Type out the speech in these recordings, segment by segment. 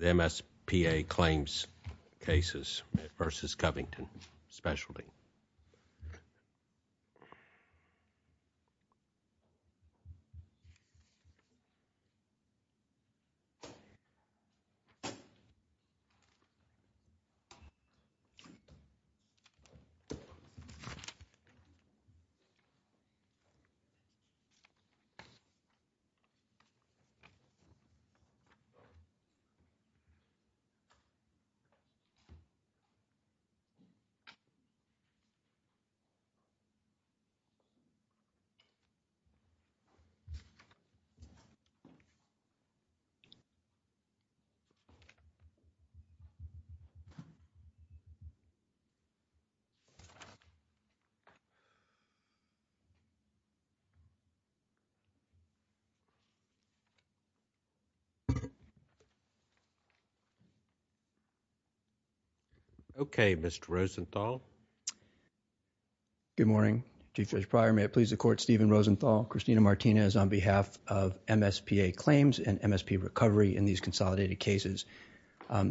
MSPA Claims Cases v. Covington Specialty. MSP Recovery Claims Cases v. Covington Specialty Insurance Company, MSP Recovery Claims Cases and MSP Recovery in these consolidated cases. What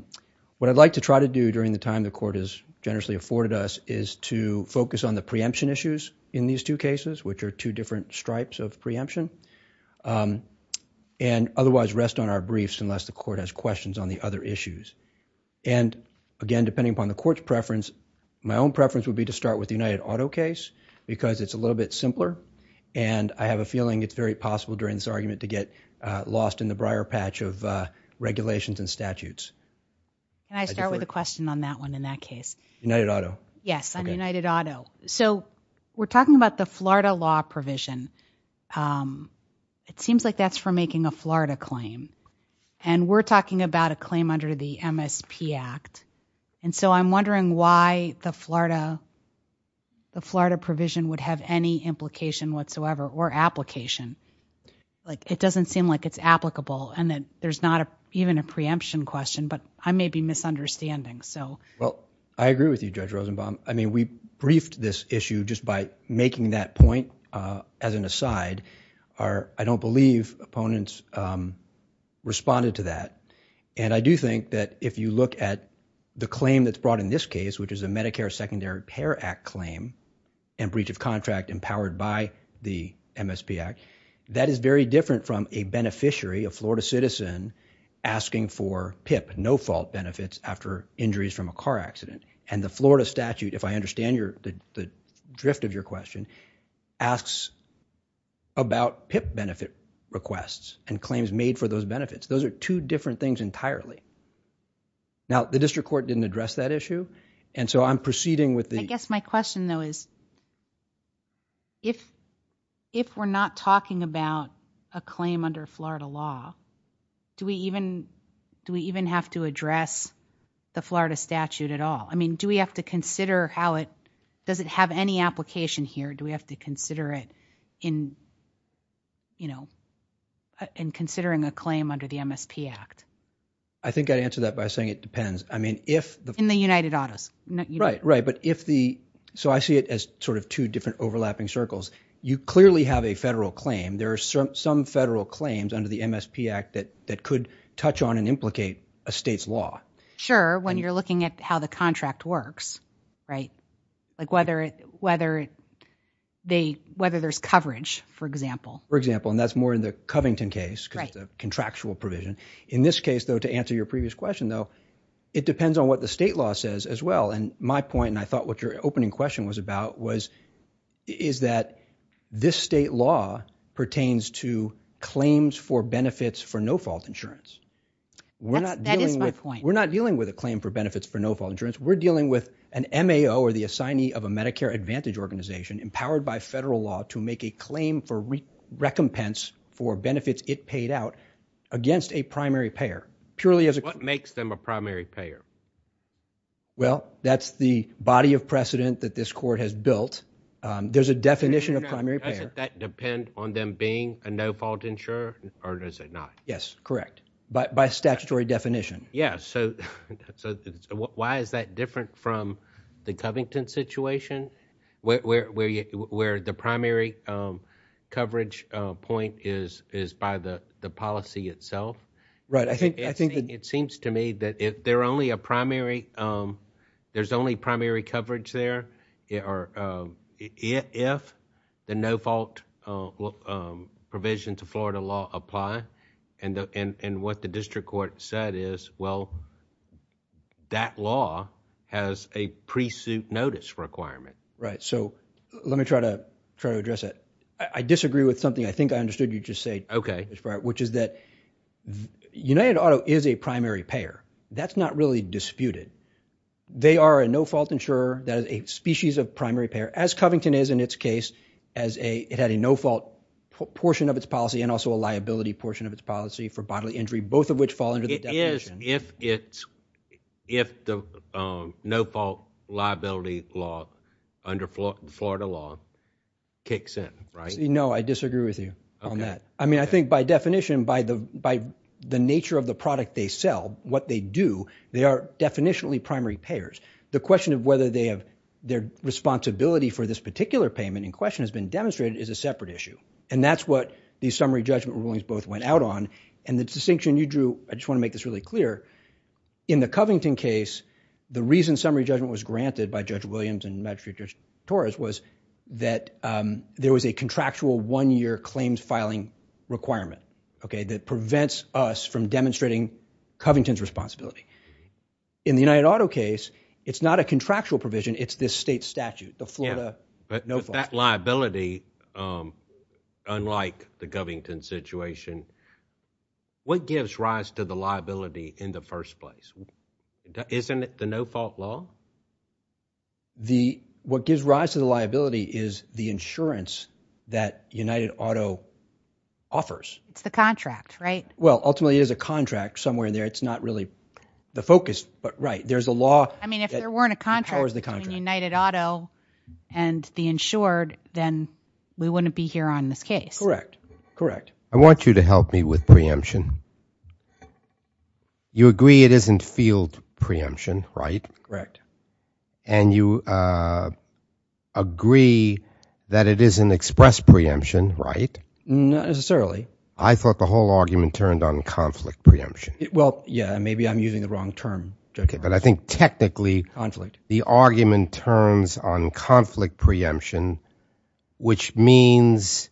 I would like to try to do during the time the Court has generously afforded us is to focus on the preemption issues in these two cases, which are two different stripes of preemption, and otherwise rest on our briefs unless the Court has questions on the other issues, and again, depending upon the Court's preference, my own preference would be to start with the United Auto case because it's a little bit simpler, and I have a feeling it's very possible during this argument to get lost in the briar patch of regulations and statutes. Can I start with a question on that one in that case? United Auto. Yes, on United Auto. We're talking about the Florida law provision. It seems like that's for making a Florida claim, and we're talking about a claim under the MSP Act, and so I'm wondering why the Florida provision would have any implication whatsoever or application. It doesn't seem like it's applicable, and that there's not even a preemption question, but I may be misunderstanding. I agree with you, Judge Rosenbaum. We briefed this issue just by making that point as an aside. I don't believe opponents responded to that, and I do think that if you look at the claim that's brought in this case, which is a Medicare Secondary Repair Act claim and breach of contract empowered by the MSP Act, that is very different from a beneficiary, a Florida citizen, asking for PIP, no-fault benefits, after injuries from a car accident, and the Florida statute, if I understand the drift of your question, asks about PIP benefit requests and claims made for those benefits. Those are two different things entirely. Now, the district court didn't address that issue, and so I'm proceeding with the... I guess my question, though, is if we're not talking about a claim under Florida law, do we even have to address the Florida statute at all? Do we have to consider how it... Does it have any application here? Do we have to consider it in considering a claim under the MSP Act? I think I'd answer that by saying it depends. I mean, if the... In the United Autos. Right, right, but if the... I see it as two different overlapping circles. You clearly have a federal claim. There are some federal claims under the MSP Act that could touch on and implicate a state's law. Sure, when you're looking at how the contract works, right? Like whether there's coverage, for example. For example, and that's more in the Covington case, because it's a contractual provision. In this case, though, to answer your previous question, though, it depends on what the state law says as well, and my point, and I thought what your opening question was about was, is that this state law pertains to claims for benefits for no-fault insurance. We're not dealing with... That is my point. We're not dealing with a claim for benefits for no-fault insurance. We're dealing with an MAO or the assignee of a Medicare Advantage organization empowered by federal law to make a claim for recompense for benefits it paid out against a primary payer, purely as a... What makes them a primary payer? Well, that's the body of precedent that this court has built. There's a definition of primary payer... Doesn't that depend on them being a no-fault insurer, or does it not? Yes, correct, by statutory definition. Yeah, so why is that different from the Covington situation, where the primary coverage point is by the policy itself? Right, I think... The primary... There's only primary coverage there if the no-fault provision to Florida law apply, and what the district court said is, well, that law has a pre-suit notice requirement. Right, so let me try to address that. I disagree with something I think I understood you just say, Mr. Breyer, which is that United Auto is a primary payer. That's not really disputed. They are a no-fault insurer that is a species of primary payer, as Covington is in its case, as it had a no-fault portion of its policy and also a liability portion of its policy for bodily injury, both of which fall under the definition. It is if the no-fault liability law under Florida law kicks in, right? No, I disagree with you on that. I mean, I think by definition, by the nature of the product they sell, what they do, they are definitionally primary payers. The question of whether their responsibility for this particular payment in question has been demonstrated is a separate issue, and that's what the summary judgment rulings both went out on, and the distinction you drew... I just want to make this really clear. In the Covington case, the reason summary judgment was granted by Judge Williams and Covington is because of the no-fault liability requirement that prevents us from demonstrating Covington's responsibility. In the United Auto case, it's not a contractual provision. It's this state statute, the Florida no-fault. But that liability, unlike the Covington situation, what gives rise to the liability in the first place? Isn't it the no-fault law? No. What gives rise to the liability is the insurance that United Auto offers. It's the contract, right? Well, ultimately, it is a contract somewhere in there. It's not really the focus, but right. There's a law... I mean, if there weren't a contract between United Auto and the insured, then we wouldn't be here on this case. Correct. Correct. I want you to help me with preemption. You agree it isn't field preemption, right? Correct. And you agree that it isn't express preemption, right? Not necessarily. I thought the whole argument turned on conflict preemption. Well, yeah. Maybe I'm using the wrong term. Okay, but I think technically... Conflict.... the argument turns on conflict preemption, which means,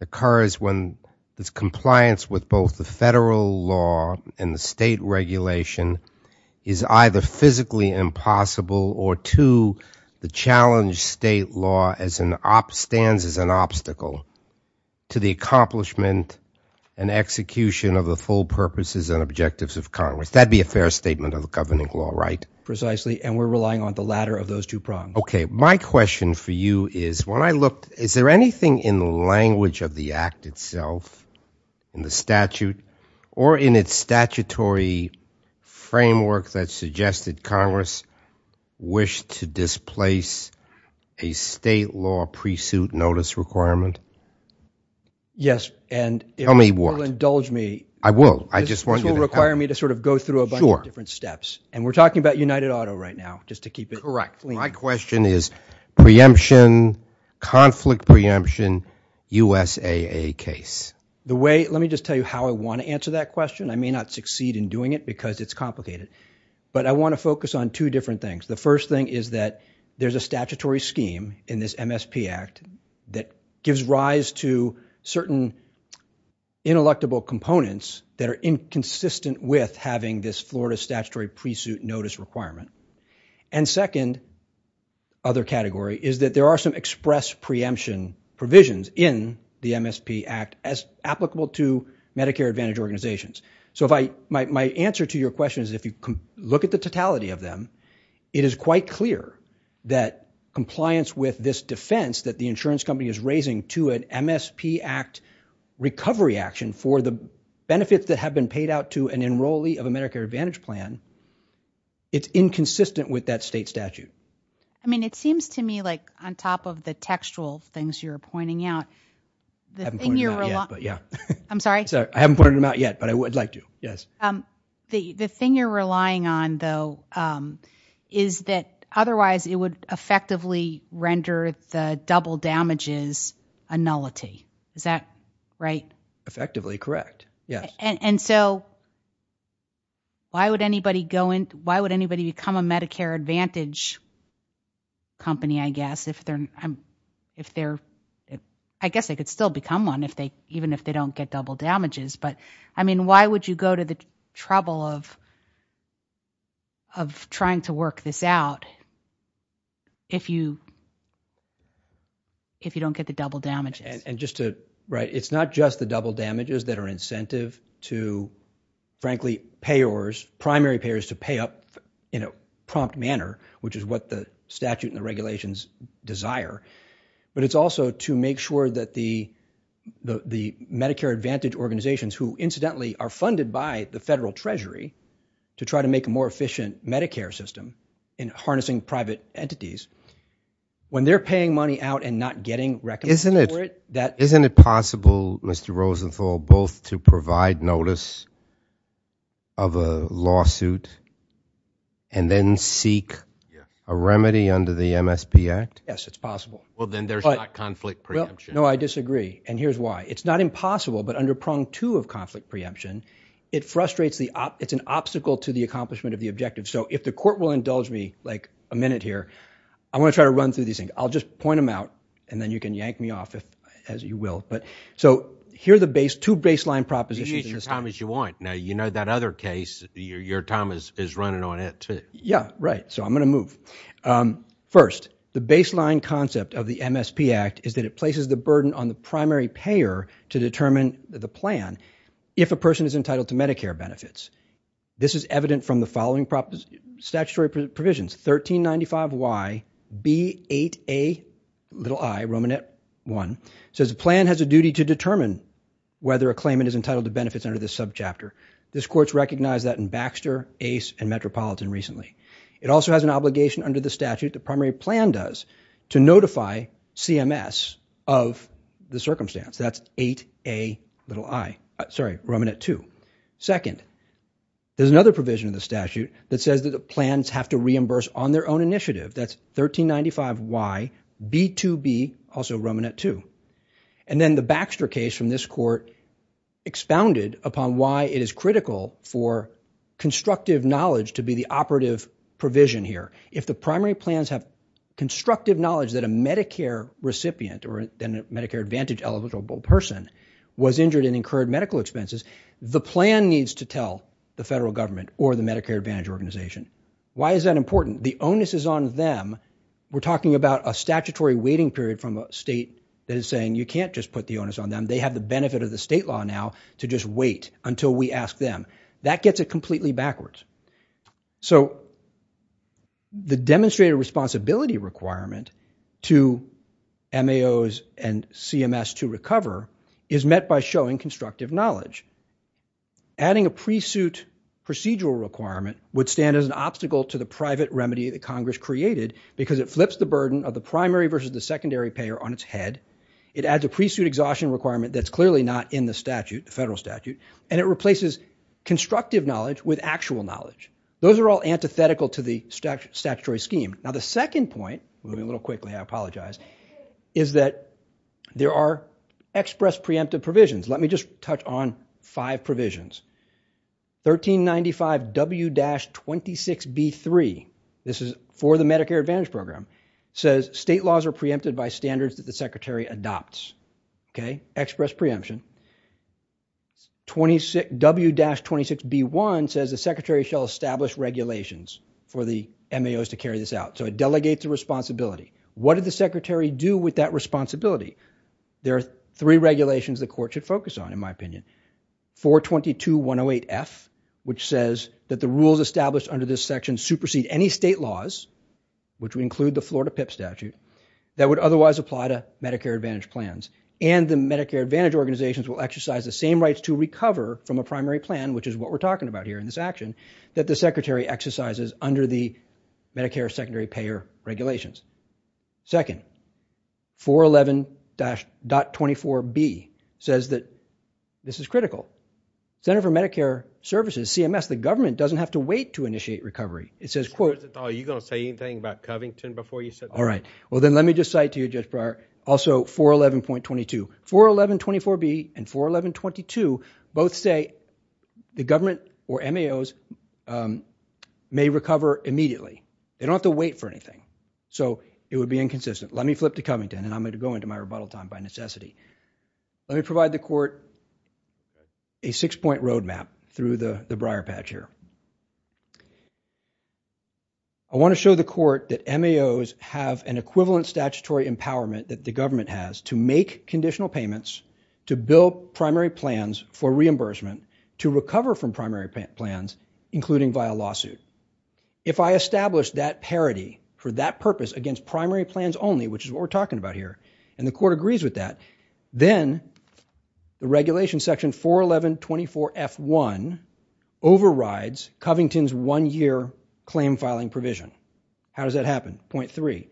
occurs when this compliance with both the federal law and the state regulation is either physically impossible or two, the challenge state law stands as an obstacle to the accomplishment and execution of the full purposes and objectives of Congress. That'd be a fair statement of the governing law, right? Precisely. And we're relying on the latter of those two prongs. My question for you is, when I looked... Is there anything in the language of the act itself, in the statute, or in its statutory framework that suggested Congress wish to displace a state law pre-suit notice requirement? Yes, and... Tell me what.... it will indulge me. I will. I just want you to... This will require me to sort of go through a bunch of different steps. And we're talking about United Auto right now, just to keep it... Correct. My question is, preemption, conflict preemption, USAA case. The way... let me just tell you how I want to answer that question. I may not succeed in doing it because it's complicated. But I want to focus on two different things. The first thing is that there's a statutory scheme in this MSP Act that gives rise to certain ineluctable components that are inconsistent with having this Florida statutory pre-suit notice requirement. And second, other category, is that there are some express preemption provisions in the MSP Act as applicable to Medicare Advantage organizations. So if I... my answer to your question is if you look at the totality of them, it is quite clear that compliance with this defense that the insurance company is raising to an MSP Act recovery action for the benefits that have been paid out to an enrollee of a with that state statute. I mean, it seems to me like on top of the textual things you're pointing out... I haven't pointed them out yet, but yeah. I'm sorry? I haven't pointed them out yet, but I would like to. Yes. The thing you're relying on, though, is that otherwise it would effectively render the double damages a nullity. Is that right? Effectively correct, yes. And so why would anybody become a Medicare Advantage company, I guess, if they're... I guess they could still become one even if they don't get double damages. But I mean, why would you go to the trouble of trying to work this out if you don't get the double damages? Right. It's not just the double damages that are incentive to, frankly, payors, primary payors to pay up in a prompt manner, which is what the statute and the regulations desire. But it's also to make sure that the Medicare Advantage organizations, who incidentally are funded by the federal treasury to try to make a more efficient Medicare system in harnessing private entities, when they're paying money out and not getting... Isn't it... Isn't it possible, Mr. Rosenthal, both to provide notice of a lawsuit and then seek a remedy under the MSP Act? Yes, it's possible. Well, then there's not conflict preemption. No, I disagree. And here's why. It's not impossible, but under prong two of conflict preemption, it frustrates the... It's an obstacle to the accomplishment of the objective. So if the court will indulge me like a minute here, I want to try to run through these things. I'll just point them out, and then you can yank me off, as you will. So here are the two baseline propositions. You can use your time as you want. Now, you know that other case, your time is running on it, too. Yeah, right. So I'm going to move. First, the baseline concept of the MSP Act is that it places the burden on the primary payer to determine the plan if a person is entitled to Medicare benefits. This is evident from the following statutory provisions. 1395YB8Ai, Romanet 1, says the plan has a duty to determine whether a claimant is entitled to benefits under this subchapter. This court's recognized that in Baxter, Ace, and Metropolitan recently. It also has an obligation under the statute, the primary plan does, to notify CMS of the circumstance. That's 8Ai, sorry, Romanet 2. Second, there's another provision in the statute that says that the plans have to reimburse on their own initiative. That's 1395YB2B, also Romanet 2. And then the Baxter case from this court expounded upon why it is critical for constructive knowledge to be the operative provision here. If the primary plans have constructive knowledge that a Medicare recipient, or then a Medicare eligible person, was injured and incurred medical expenses, the plan needs to tell the federal government or the Medicare Advantage Organization. Why is that important? The onus is on them. We're talking about a statutory waiting period from a state that is saying you can't just put the onus on them. They have the benefit of the state law now to just wait until we ask them. That gets it completely backwards. So the demonstrated responsibility requirement to MAOs and CMS to recover is met by showing constructive knowledge. Adding a pre-suit procedural requirement would stand as an obstacle to the private remedy that Congress created because it flips the burden of the primary versus the secondary payer on its head. It adds a pre-suit exhaustion requirement that's clearly not in the statute, the federal knowledge. Those are all antithetical to the statutory scheme. Now the second point, moving a little quickly, I apologize, is that there are express preemptive provisions. Let me just touch on five provisions. 1395 W-26B3, this is for the Medicare Advantage Program, says state laws are preempted by standards that the Secretary adopts. Express preemption. 26, W-26B1 says the Secretary shall establish regulations for the MAOs to carry this out. So it delegates a responsibility. What did the Secretary do with that responsibility? There are three regulations the court should focus on, in my opinion. 422-108F, which says that the rules established under this section supersede any state laws, which would include the Florida PIP statute, that would otherwise apply to Medicare Advantage plans, and the Medicare Advantage organizations will exercise the same rights to recover from a primary plan, which is what we're talking about here in this action, that the Secretary exercises under the Medicare secondary payer regulations. Second, 411-.24B says that this is critical. Center for Medicare Services, CMS, the government doesn't have to wait to initiate recovery. It says, quote, Are you going to say anything about Covington before you say that? All right. Well, then let me just cite to you, Judge Breyer, also 411-.22. 411-.24B and 411-.22 both say the government or MAOs may recover immediately. They don't have to wait for anything. So it would be inconsistent. Let me flip to Covington, and I'm going to go into my rebuttal time by necessity. Let me provide the court a six-point roadmap through the Breyer patch here. I want to show the court that MAOs have an equivalent statutory empowerment that the government has to make conditional payments, to build primary plans for reimbursement, to recover from primary plans, including via lawsuit. If I establish that parity for that purpose against primary plans only, which is what we're talking about here, and the court agrees with that, then the regulation section 411-.24F1 overrides Covington's one-year claim filing provision. How does that happen? Point three,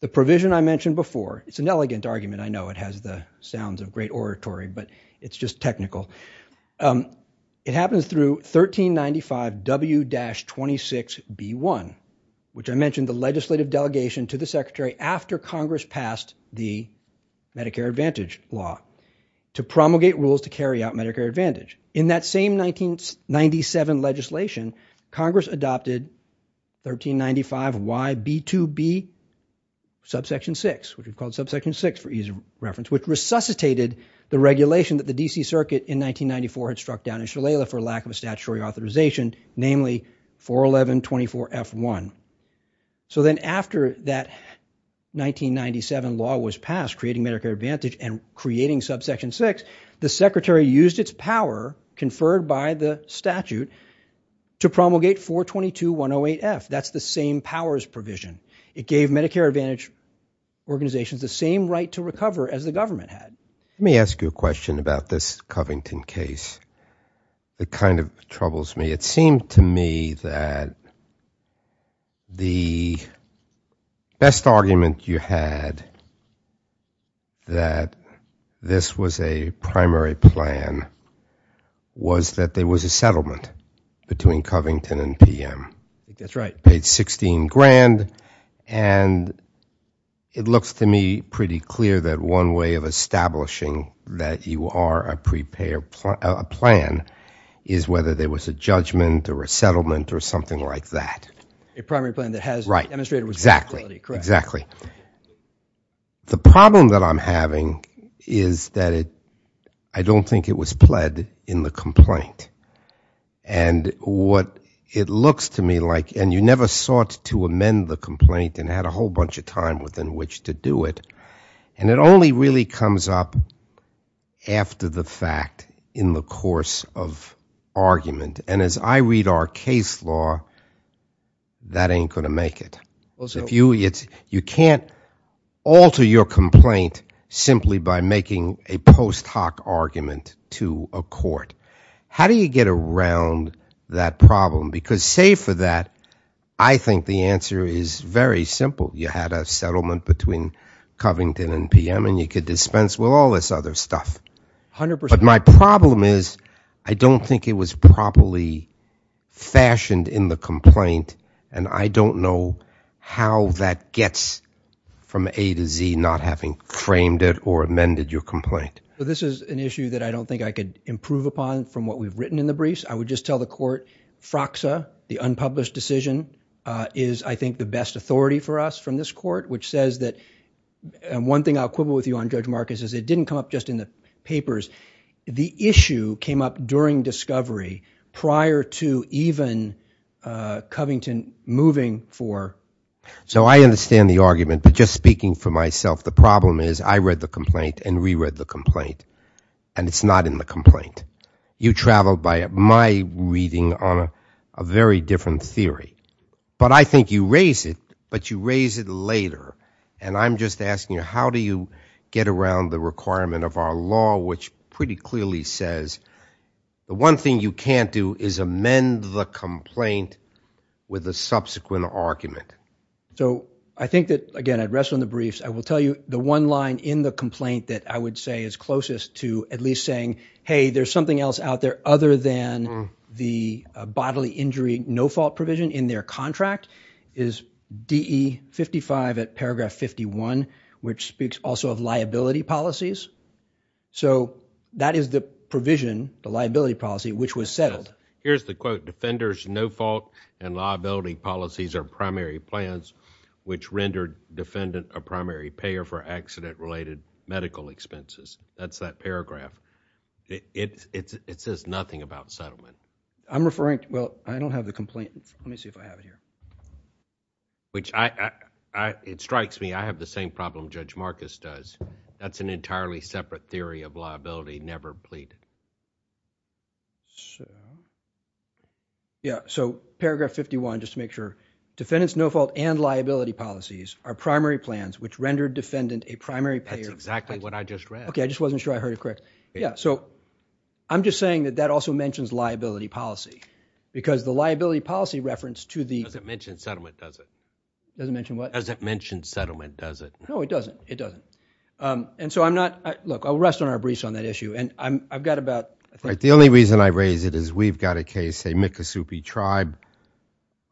the provision I mentioned before, it's an elegant argument. I know it has the sounds of great oratory, but it's just technical. It happens through 1395-W-26B1, which I mentioned the legislative delegation to the secretary after Congress passed the Medicare Advantage law to promulgate rules to carry out Medicare Advantage. In that same 1997 legislation, Congress adopted 1395-Y-B2B subsection 6, which we've called subsection 6 for ease of reference, which resuscitated the regulation that the DC Circuit in 1994 had struck down in Shillela for lack of a statutory authorization, namely 411-.24F1. So then after that 1997 law was passed, creating Medicare Advantage and creating subsection 6, the secretary used its power conferred by the statute to promulgate 422-108F. That's the same powers provision. It gave Medicare Advantage organizations the same right to recover as the government had. Let me ask you a question about this Covington case. It kind of troubles me. It seemed to me that the best argument you had that this was a primary plan was that there was a settlement between Covington and PM. I think that's right. Paid 16 grand, and it looks to me pretty clear that one way of establishing that you are preparing a plan is whether there was a judgment or a settlement or something like that. A primary plan that has demonstrated responsibility. Exactly. The problem that I'm having is that I don't think it was pled in the complaint. And what it looks to me like, and you never sought to amend the complaint and had a whole comes up after the fact in the course of argument. And as I read our case law, that ain't going to make it. You can't alter your complaint simply by making a post hoc argument to a court. How do you get around that problem? Because save for that, I think the answer is very simple. You had a settlement between Covington and PM, and you could dispense with all this other stuff. But my problem is, I don't think it was properly fashioned in the complaint. And I don't know how that gets from A to Z, not having framed it or amended your complaint. This is an issue that I don't think I could improve upon from what we've written in the briefs. I would just tell the court, FRAXA, the unpublished decision, is I think the best authority for us from this court, which says that, and one thing I'll quibble with you on, Judge Marcus, is it didn't come up just in the papers. The issue came up during discovery, prior to even Covington moving for... So I understand the argument, but just speaking for myself, the problem is I read the complaint and re-read the complaint, and it's not in the complaint. You traveled by my reading on a very different theory. But I think you raise it, but you raise it later. And I'm just asking you, how do you get around the requirement of our law, which pretty clearly says the one thing you can't do is amend the complaint with a subsequent argument? So I think that, again, I'd rest on the briefs. I will tell you the one line in the complaint that I would say is closest to at least saying, hey, there's something else out there other than the bodily injury no-fault provision in their contract is DE55 at paragraph 51, which speaks also of liability policies. So that is the provision, the liability policy, which was settled. Here's the quote, defenders no-fault and liability policies are primary plans, which rendered defendant a primary payer for accident-related medical expenses. That's that paragraph. It says nothing about settlement. I'm referring, well, I don't have the complaint. Let me see if I have it here. Which it strikes me, I have the same problem Judge Marcus does. That's an entirely separate theory of liability, never pleaded. Yeah, so paragraph 51, just to make sure, defendants no-fault and liability policies are primary plans, which rendered defendant a primary payer. That's exactly what I just read. Okay, I just wasn't sure I heard it correct. Yeah, so I'm just saying that that also mentions liability policy, because the liability policy reference to the- Doesn't mention settlement, does it? Doesn't mention what? Doesn't mention settlement, does it? No, it doesn't. It doesn't. And so I'm not, look, I'll rest on our briefs on that issue. And I've got about, I think- The only reason I raise it is we've got a case, a Miccosoupi tribe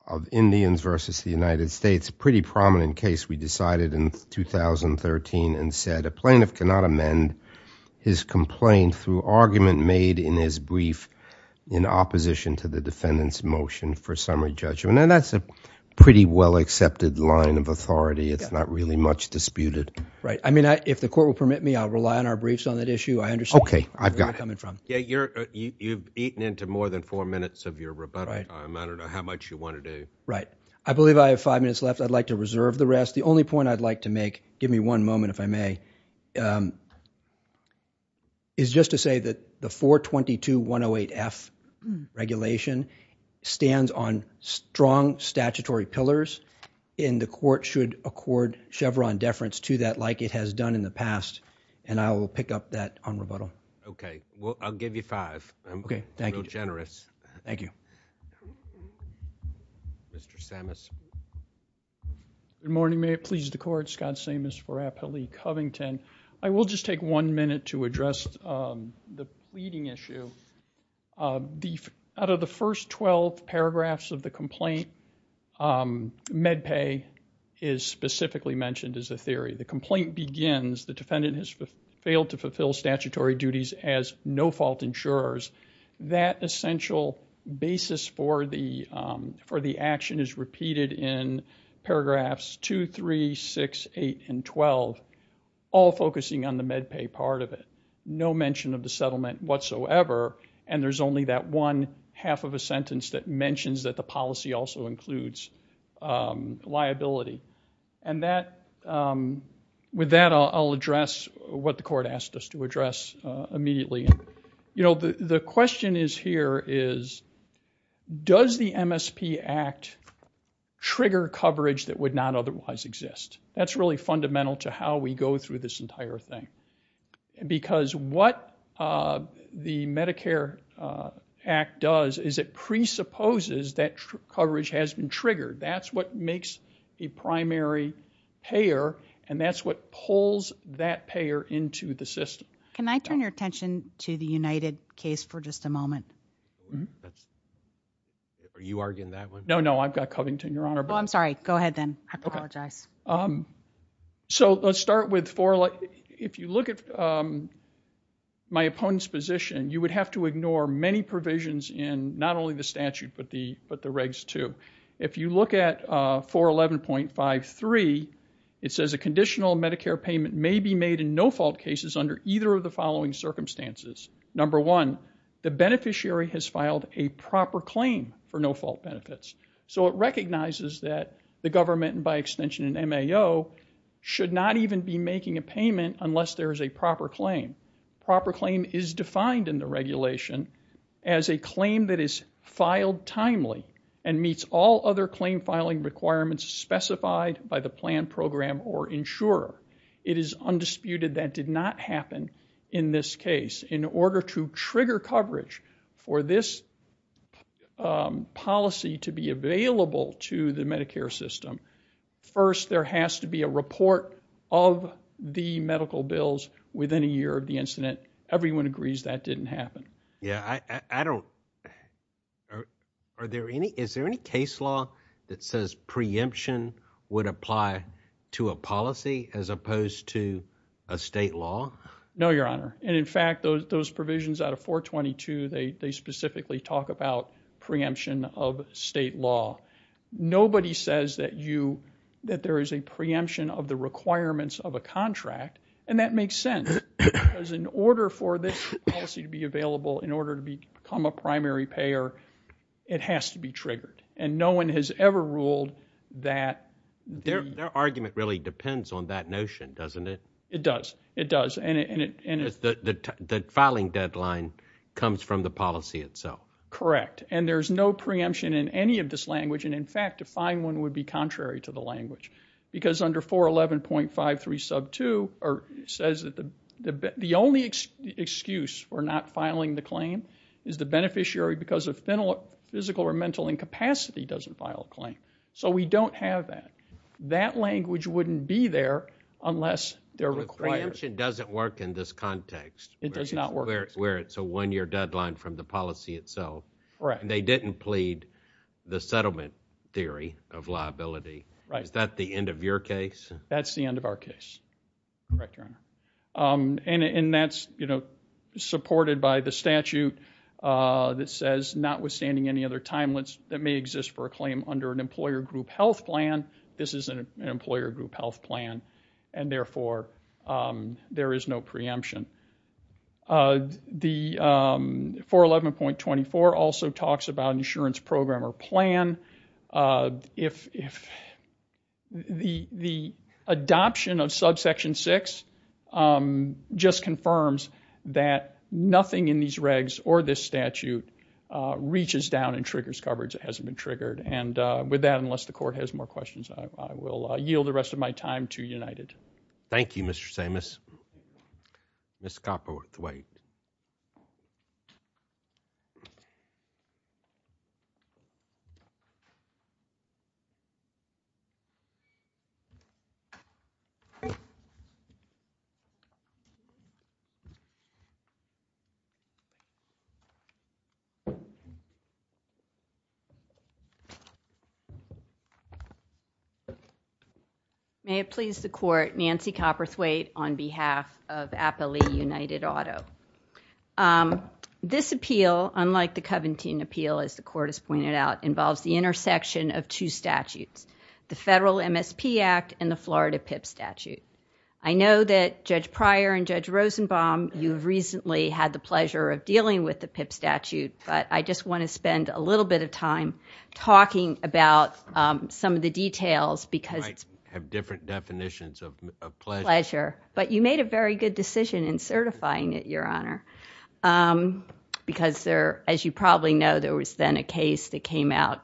of Indians versus the United States. A pretty prominent case we decided in 2013 and said a plaintiff cannot amend his complaint through argument made in his brief in opposition to the defendant's motion for summary judgment. And that's a pretty well-accepted line of authority. It's not really much disputed. Right. I mean, if the court will permit me, I'll rely on our briefs on that issue. I understand where you're coming from. Yeah, you've eaten into more than four minutes of your rebuttal time. I don't know how much you want to do. Right. I believe I have five minutes left. I'd like to reserve the rest. The only point I'd like to make, give me one moment if I may, is just to say that the 422-108-F regulation stands on strong statutory pillars and the court should accord Chevron deference to that like it has done in the past. And I will pick up that on rebuttal. Okay. Well, I'll give you five. I'm real generous. Thank you. Mr. Samus. Good morning. May it please the court. Scott Samus for Appellee Covington. I will just take one minute to address the pleading issue. Out of the first 12 paragraphs of the complaint, med pay is specifically mentioned as a theory. The complaint begins, the defendant has failed to fulfill statutory duties as no-fault insurers. That essential basis for the action is repeated in paragraphs 2, 3, 6, 8, and 12. All focusing on the med pay part of it. No mention of the settlement whatsoever. And there's only that one half of a sentence that mentions that the policy also includes liability. And with that, I'll address what the court asked us to address immediately. You know, the question is here is, does the MSP Act trigger coverage that would not otherwise exist? That's really fundamental to how we go through this entire thing. Because what the Medicare Act does is it presupposes that coverage has been triggered. That's what makes a primary payer. And that's what pulls that payer into the system. Can I turn your attention to the United case for just a moment? Are you arguing that one? No, no. I've got Covington, Your Honor. Oh, I'm sorry. Go ahead then. I apologize. Um, so let's start with four. If you look at my opponent's position, you would have to ignore many provisions in not only the statute, but the regs too. If you look at 411.53, it says a conditional Medicare payment may be made in no-fault cases under either of the following circumstances. Number one, the beneficiary has filed a proper claim for no-fault benefits. So it recognizes that the government, and by extension an MAO, should not even be making a payment unless there is a proper claim. Proper claim is defined in the regulation as a claim that is filed timely and meets all other claim filing requirements specified by the plan program or insurer. It is undisputed that did not happen in this case. In order to trigger coverage for this policy to be available to the Medicare system, first there has to be a report of the medical bills within a year of the incident. Everyone agrees that didn't happen. Yeah, I don't, are there any, is there any case law that says preemption would apply to a policy as opposed to a state law? No, Your Honor. And in fact, those provisions out of 422, they specifically talk about preemption of state law. Nobody says that you, that there is a preemption of the requirements of a contract, and that makes sense. Because in order for this policy to be available, in order to become a primary payer, it has to be triggered. And no one has ever ruled that. Their argument really depends on that notion, doesn't it? It does. It does. The filing deadline comes from the policy itself. Correct. And there is no preemption in any of this language. And in fact, a fine one would be contrary to the language. Because under 411.53 sub 2, it says that the only excuse for not filing the claim is the beneficiary, because of physical or mental incapacity, doesn't file a claim. So we don't have that. That language wouldn't be there unless they're required. Preemption doesn't work in this context. It does not work. Where it's a one year deadline from the policy itself. Right. They didn't plead the settlement theory of liability. Right. Is that the end of your case? That's the end of our case. Correct, Your Honor. And that's, you know, supported by the statute that says, notwithstanding any other timelines that may exist for a claim under an employer group health plan, this is an employer group health plan. And therefore, there is no preemption. The 411.24 also talks about insurance program or plan. If the adoption of subsection 6 just confirms that nothing in these regs or this statute reaches down and triggers coverage that hasn't been triggered. And with that, unless the court has more questions, I will yield the rest of my time to Thank you, Mr. Samus. Ms. Copperworth-White. May it please the court, Nancy Copperworth-White on behalf of Appley United Auto. Um, this appeal, unlike the Covington appeal, as the court has pointed out, involves the intersection of two statutes, the Federal MSP Act and the Florida PIP statute. I know that Judge Pryor and Judge Rosenbaum, you've recently had the pleasure of dealing with the PIP statute, but I just want to spend a little bit of time talking about, some of the details because I have different definitions of pleasure. But you made a very good decision in certifying it, Your Honor. Um, because there, as you probably know, there was then a case that came out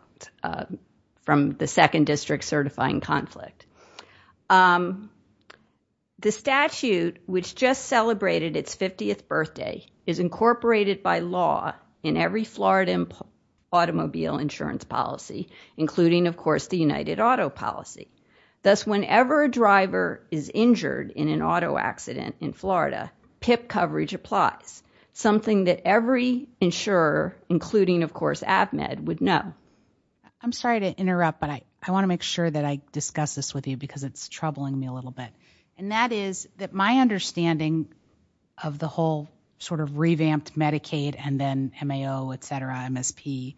from the second district certifying conflict. Um, the statute, which just celebrated its 50th birthday, is incorporated by law in every Florida automobile insurance policy, including, of course, the United Auto policy. Thus, whenever a driver is injured in an auto accident in Florida, PIP coverage applies. Something that every insurer, including, of course, AvMed, would know. I'm sorry to interrupt, but I want to make sure that I discuss this with you because it's troubling me a little bit. And that is that my understanding of the whole sort of revamped Medicaid and then MAO, etc., MSP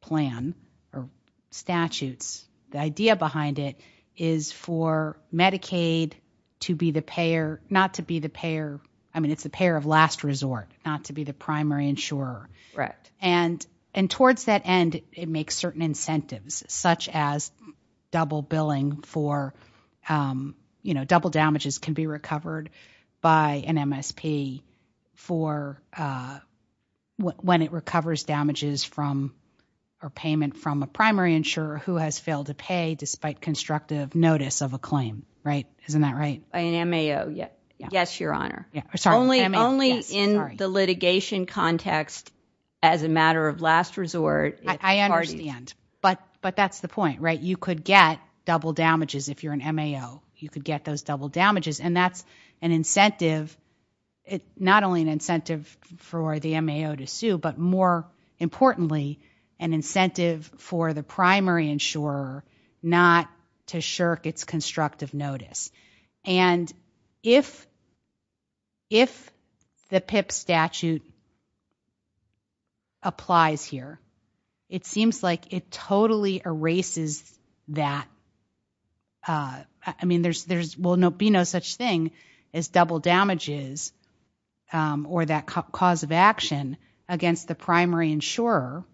plan or statutes, the idea behind it is for Medicaid to be the payer, not to be the primary insurer. Right. And towards that end, it makes certain incentives, such as double billing for, you know, double damages can be recovered by an MSP for when it recovers damages from or payment from a primary insurer who has failed to pay despite constructive notice of a claim. Right? Isn't that right? An MAO. Yeah. Yes, Your Honor. Only in the litigation context, as a matter of last resort. But that's the point, right? You could get double damages if you're an MAO. You could get those double damages. And that's an incentive, not only an incentive for the MAO to sue, but more importantly, an incentive for the primary insurer not to shirk its constructive notice. And if the PIP statute applies here, it seems like it totally erases that. I mean, there will be no such thing as double damages or that cause of action against the primary insurer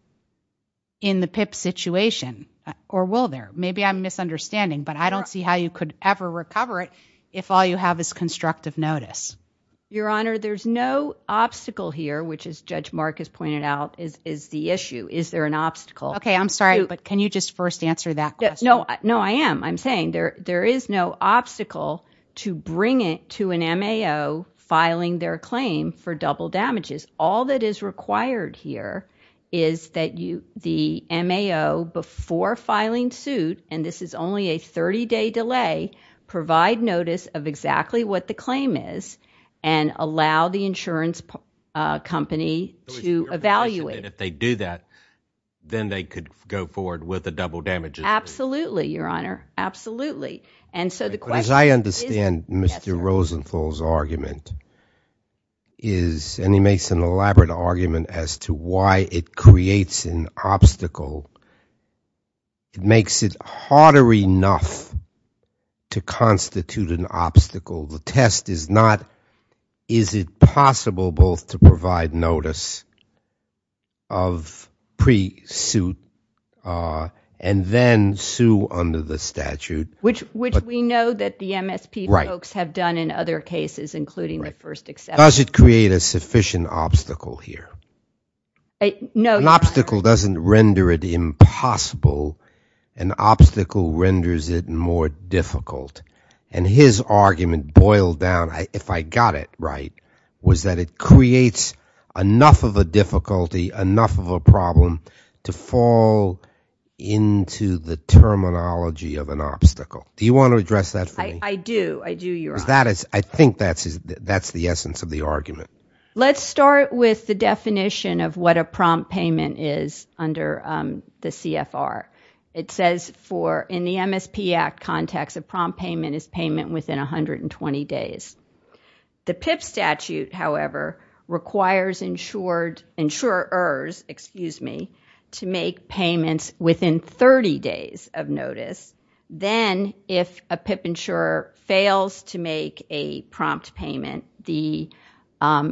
in the PIP situation, or will there? Maybe I'm misunderstanding, but I don't see how you could ever recover it if all you have is constructive notice. Your Honor, there's no obstacle here, which is, Judge Mark has pointed out, is the issue. Is there an obstacle? Okay, I'm sorry, but can you just first answer that question? No, no, I am. I'm saying there is no obstacle to bring it to an MAO filing their claim for double damages. All that is required here is that the MAO, before filing suit, and this is only a 30-day delay, provide notice of exactly what the claim is and allow the insurance company to evaluate. If they do that, then they could go forward with the double damages. Absolutely, Your Honor, absolutely. As I understand Mr. Rosenthal's argument is, and he makes an elaborate argument as to why it creates an obstacle, it makes it harder enough to constitute an obstacle. The test is not, is it possible both to provide notice of pre-suit and then sue under the statute? Which we know that the MSP folks have done in other cases, including the first exception. Does it create a sufficient obstacle here? An obstacle doesn't render it impossible. An obstacle renders it more difficult. And his argument boiled down, if I got it right, was that it creates enough of a difficulty, enough of a problem to fall into the terminology of an obstacle. Do you want to address that for me? I do. I do, Your Honor. I think that's the essence of the argument. Let's start with the definition of what a prompt payment is under the CFR. It says, in the MSP Act context, a prompt payment is payment within 120 days. The PIP statute, however, requires insurers to make payments within 30 days of notice. Then, if a PIP insurer fails to make a prompt payment, the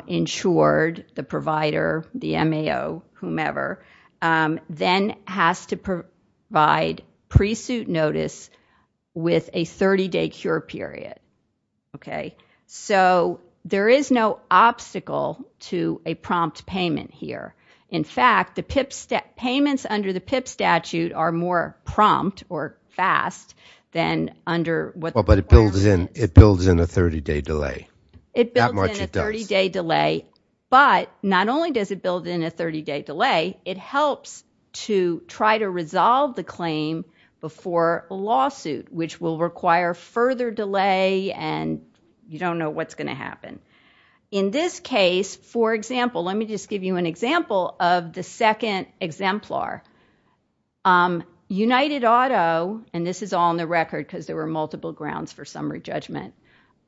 insured, the provider, the MAO, whomever, then has to provide pre-suit notice with a 30-day cure period. So, there is no obstacle to a prompt payment here. In fact, the PIP, payments under the PIP statute are more prompt or fast than under what the But it builds in, it builds in a 30-day delay. It builds in a 30-day delay, but not only does it build in a 30-day delay, it helps to try to what's going to happen. In this case, for example, let me just give you an example of the second exemplar. United Auto, and this is all on the record because there were multiple grounds for summary judgment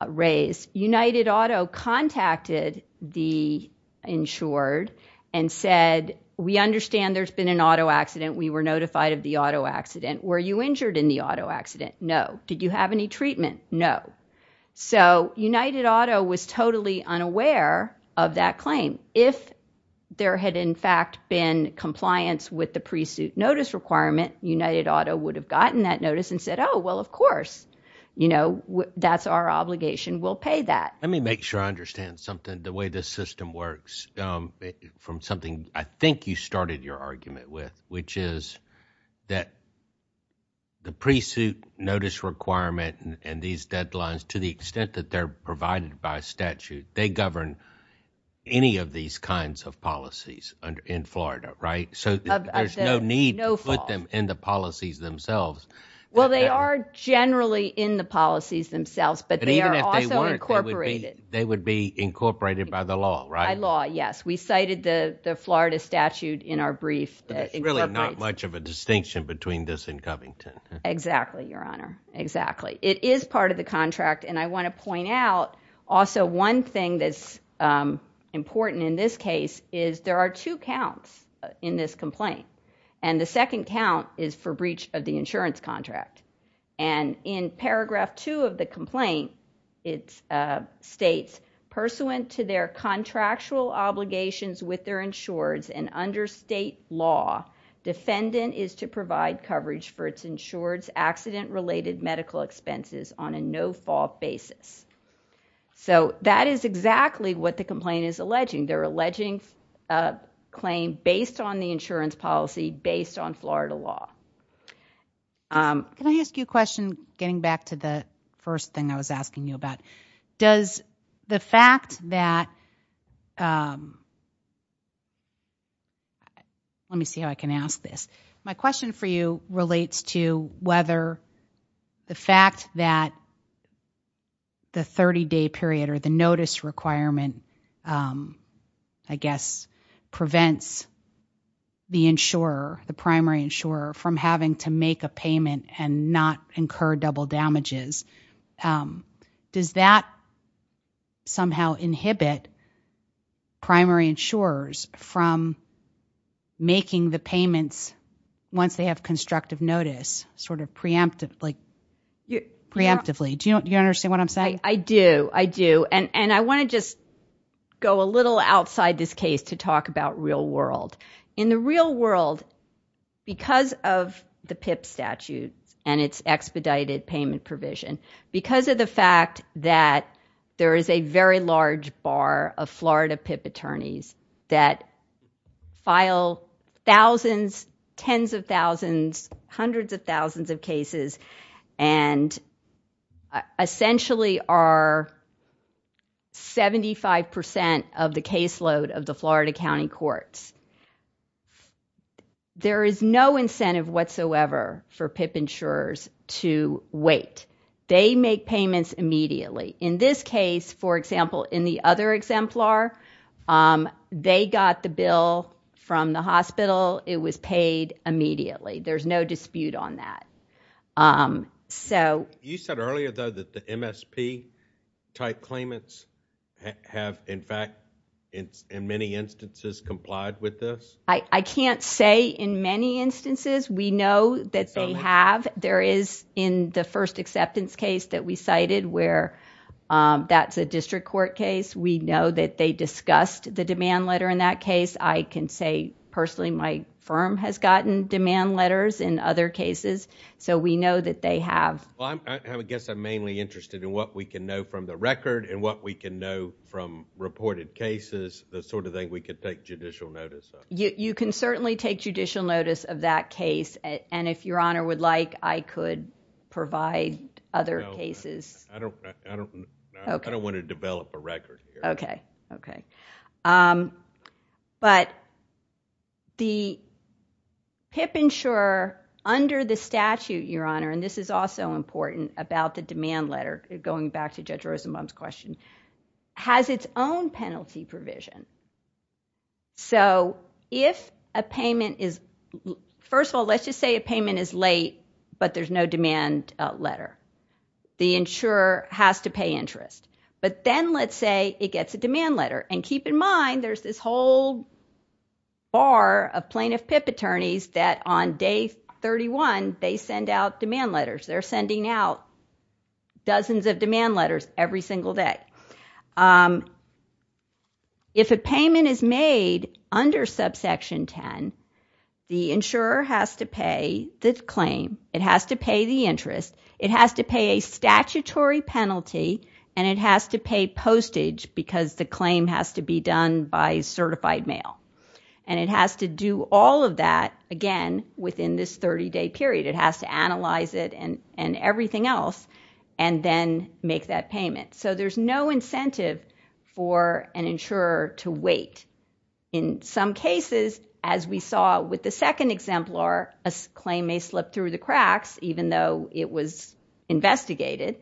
raised, United Auto contacted the insured and said, we understand there has been an auto accident. We were notified of the auto accident. Were you injured in the auto accident? No. Did you have any treatment? No. So, United Auto was totally unaware of that claim. If there had, in fact, been compliance with the pre-suit notice requirement, United Auto would have gotten that notice and said, oh, well, of course, you know, that's our obligation. We'll pay that. Let me make sure I understand something, the way this system works from something I think you started your argument with, which is that the pre-suit notice requirement and these deadlines, to the extent that they're provided by statute, they govern any of these kinds of policies in Florida, right? So, there's no need to put them in the policies themselves. Well, they are generally in the policies themselves, but they are also incorporated. They would be incorporated by the law, right? By law, yes. We cited the Florida statute in our brief. There's really not much of a distinction between this and Covington. Exactly, Your Honor. Exactly. It is part of the contract, and I want to point out also one thing that's important in this case is there are two counts in this complaint, and the second count is for breach of the insurance contract, and in paragraph two of the complaint, it states, pursuant to their contractual obligations with their insureds and under state law, defendant is to provide coverage for its insured's accident-related medical expenses on a no-fault basis. So, that is exactly what the complaint is alleging. They're alleging a claim based on the insurance policy, based on Florida law. Can I ask you a question, getting back to the first thing I was asking you about? Does the fact that, let me see how I can ask this. My question for you relates to whether the fact that the 30-day period or the notice requirement, I guess, prevents the insurer, the primary insurer from having to make a payment and not incur double damages, does that somehow inhibit primary insurers from making the payments once they have constructive notice, sort of preemptively? Do you understand what I'm saying? I do. I do. And I want to just go a little outside this case to talk about real world. In the real world, because of the PIP statute and its expedited payment provision, because of the fact that there is a very large bar of Florida PIP attorneys that file thousands, tens of thousands, hundreds of thousands of cases, and essentially are 75% of the caseload of the Florida County Courts, there is no incentive whatsoever for PIP insurers to wait. They make payments immediately. In this case, for example, in the other exemplar, they got the bill from the hospital. It was paid immediately. There's no dispute on that. You said earlier, though, that the MSP type claimants have, in fact, in many instances complied with this? I can't say in many instances. We know that they have. There is, in the first acceptance case that we cited where that's a district court case, we know that they discussed the demand letter in that case. I can say, personally, my firm has gotten demand letters in other cases, so we know that they have. Well, I guess I'm mainly interested in what we can know from the record and what we can know from reported cases, the sort of thing we could take judicial notice of. You can certainly take judicial notice of that case. If Your Honor would like, I could provide other cases. No. I don't want to develop a record here. Okay. But the PIP insurer under the statute, Your Honor, and this is also important about the demand letter, going back to Judge Rosenbaum's question, has its own penalty provision. So, if a payment is, first of all, let's just say a payment is late, but there's no demand letter. The insurer has to pay interest. But then let's say it gets a demand letter. And keep in mind, there's this whole bar of plaintiff PIP attorneys that on day 31, they send out demand letters. They're sending out dozens of demand letters every single day. If a payment is made under subsection 10, the insurer has to pay the claim. It has to pay the interest. It has to pay a statutory penalty. And it has to pay postage because the claim has to be done by certified mail. And it has to do all of that, again, within this 30-day period. It has to analyze it and everything else and then make that payment. So, there's no incentive for an insurer to wait. In some cases, as we saw with the second exemplar, a claim may slip through the cracks even though it was investigated.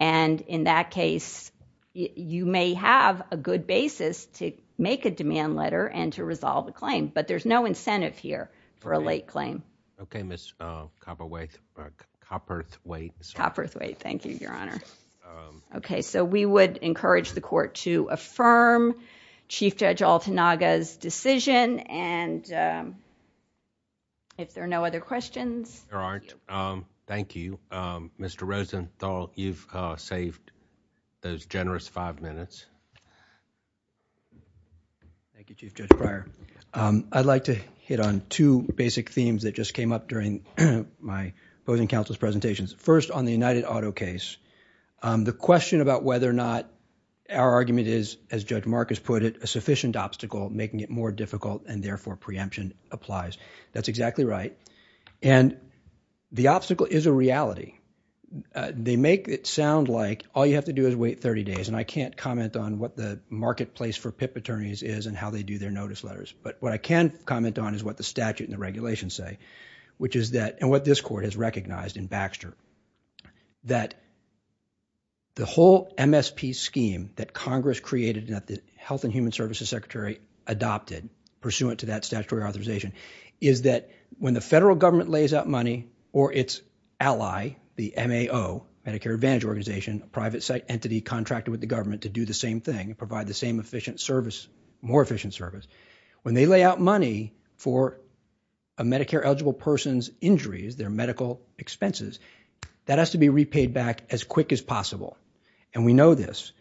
And in that case, you may have a good basis to make a demand letter and to resolve a claim. But there's no incentive here for a late claim. Okay. Ms. Copperthwaite. Thank you, Your Honor. Okay. So, we would encourage the court to affirm Chief Judge Altanaga's decision. And if there are no other questions... There aren't. Thank you. Mr. Rosenthal, you've saved those generous five minutes. Thank you, Chief Judge Breyer. I'd like to hit on two basic themes that just came up during my opposing counsel's presentations. First, on the United Auto case. The question about whether or not our argument is, as Judge Marcus put it, a sufficient obstacle making it more difficult and therefore preemption applies. That's exactly right. And the obstacle is a reality. They make it sound like all you have to do is wait 30 days. And I can't comment on what the marketplace for PIP attorneys is and how they do their notice letters. But what I can comment on is what the statute and the regulations say, which is that, and what this court has recognized in Baxter, that the whole MSP scheme that Congress created and that the Health and Human Services Secretary adopted pursuant to that statutory authorization is that when the federal government lays out money or its ally, the MAO, Medicare Advantage Organization, a private entity contracted with the government to do the same thing and provide the same efficient service, more efficient service, when they lay out money for a Medicare-eligible person's injuries, their medical expenses, that has to be repaid back as quick as possible. And we know this.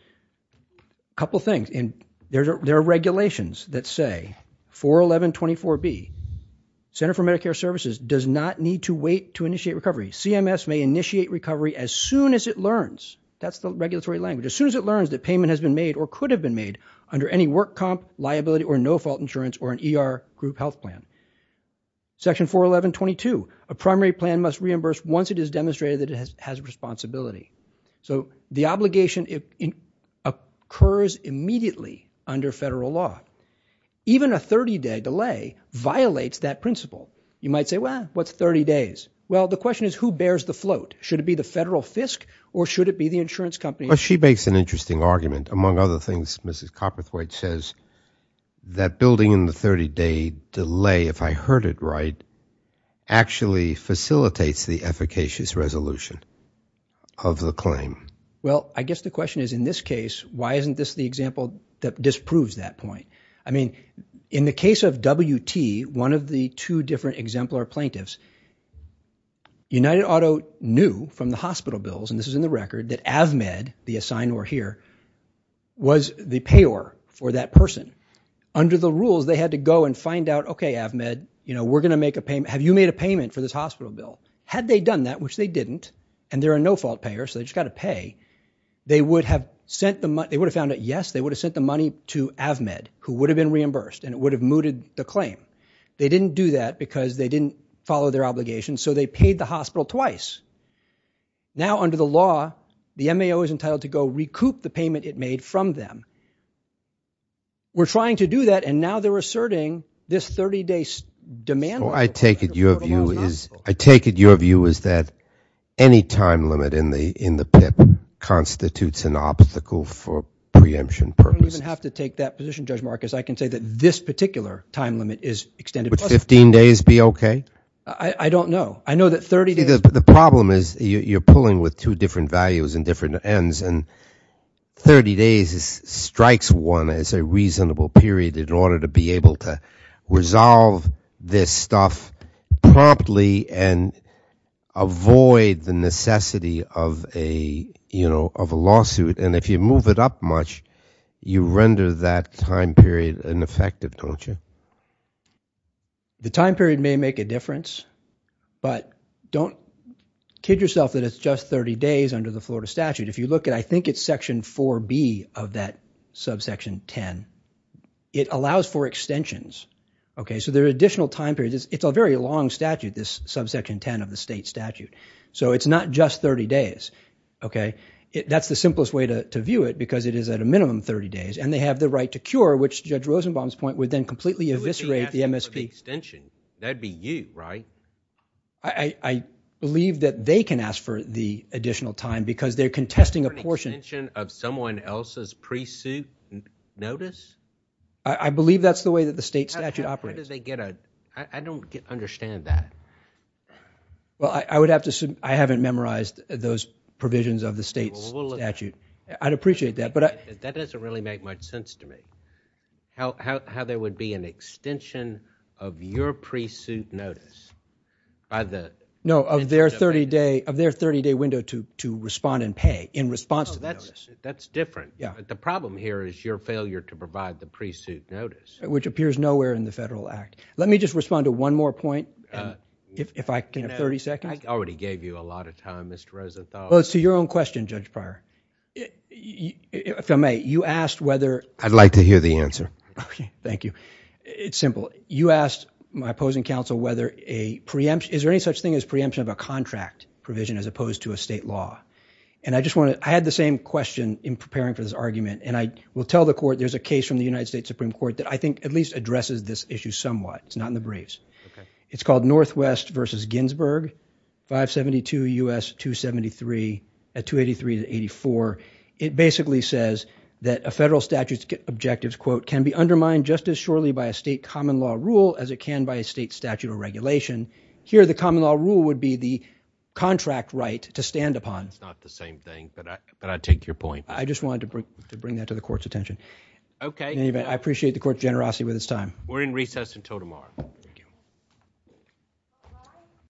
A couple things. And there are regulations that say, 41124B, Center for Medicare Services does not need to wait to initiate recovery. CMS may initiate recovery as soon as it learns. That's the regulatory language. As soon as it learns that payment has been made or could have been made under any work comp, liability, or no-fault insurance or an ER group health plan. Section 41122, a primary plan must reimburse once it is demonstrated that it has responsibility. So the obligation occurs immediately under federal law. Even a 30-day delay violates that principle. You might say, well, what's 30 days? Well, the question is, who bears the float? Should it be the federal FISC or should it be the insurance company? She makes an interesting argument. Among other things, Mrs. Copperthwaite says that building in the 30-day delay, if I heard it right, actually facilitates the efficacious resolution of the claim. Well, I guess the question is, in this case, why isn't this the example that disproves that point? I mean, in the case of WT, one of the two different exemplar plaintiffs, United Auto knew from the hospital bills, and this is in the record, that Avmed, the assignor here, was the payor for that person. Under the rules, they had to go and find out, okay, Avmed, we're going to make a payment. Have you made a payment for this hospital bill? Had they done that, which they didn't, and they're a no-fault payer, so they just got to pay, they would have sent the money. They would have found out, yes, they would have sent the money to Avmed, who would have been reimbursed, and it would have mooted the claim. They didn't do that because they didn't follow their obligation. So, they paid the hospital twice. Now, under the law, the MAO is entitled to go recoup the payment it made from them. We're trying to do that, and now they're asserting this 30-day demand. I take it your view is that any time limit in the PIP constitutes an obstacle for preemption purposes. You don't even have to take that position, Judge Marcus. I can say that this particular time limit is extended. Would 15 days be okay? I don't know. I know that 30 days— The problem is you're pulling with two different values and different ends, and 30 days strikes one as a reasonable period in order to be able to resolve this stuff promptly and avoid the necessity of a lawsuit. If you move it up much, you render that time period ineffective, don't you? The time period may make a difference, but don't kid yourself that it's just 30 days under the Florida statute. If you look at—I think it's section 4B of that subsection 10. It allows for extensions, okay? So, there are additional time periods. It's a very long statute, this subsection 10 of the state statute. So, it's not just 30 days, okay? That's the simplest way to view it because it is at a minimum 30 days, and they have the right to cure, which Judge Rosenbaum's point would then completely eviscerate the Who would be asking for the extension? That'd be you, right? I believe that they can ask for the additional time because they're contesting a portion— For an extension of someone else's pre-suit notice? I believe that's the way that the state statute operates. How did they get a—I don't understand that. Well, I would have to—I haven't memorized those provisions of the state statute. I'd appreciate that, but— That doesn't really make much sense to me. How there would be an extension of your pre-suit notice by the— No, of their 30-day window to respond and pay in response to the notice. That's different. The problem here is your failure to provide the pre-suit notice. Which appears nowhere in the Federal Act. Let me just respond to one more point, if I can have 30 seconds. I already gave you a lot of time, Mr. Rosenthal. Well, it's to your own question, Judge Pryor. If I may, you asked whether— I'd like to hear the answer. Okay, thank you. It's simple. You asked my opposing counsel whether a preemption— Is there any such thing as preemption of a contract provision as opposed to a state law? And I just want to—I had the same question in preparing for this argument, and I will tell the court there's a case from the United States Supreme Court that I think at least addresses this issue somewhat. It's not in the briefs. It's called Northwest v. Ginsburg, 572 U.S. 273 at 283 to 84. It basically says that a federal statute's objectives, quote, can be undermined just as surely by a state common law rule as it can by a state statute or regulation. Here, the common law rule would be the contract right to stand upon. It's not the same thing, but I take your point. I just wanted to bring that to the court's attention. Okay. I appreciate the court's generosity with its time. We're in recess until tomorrow. Thank you.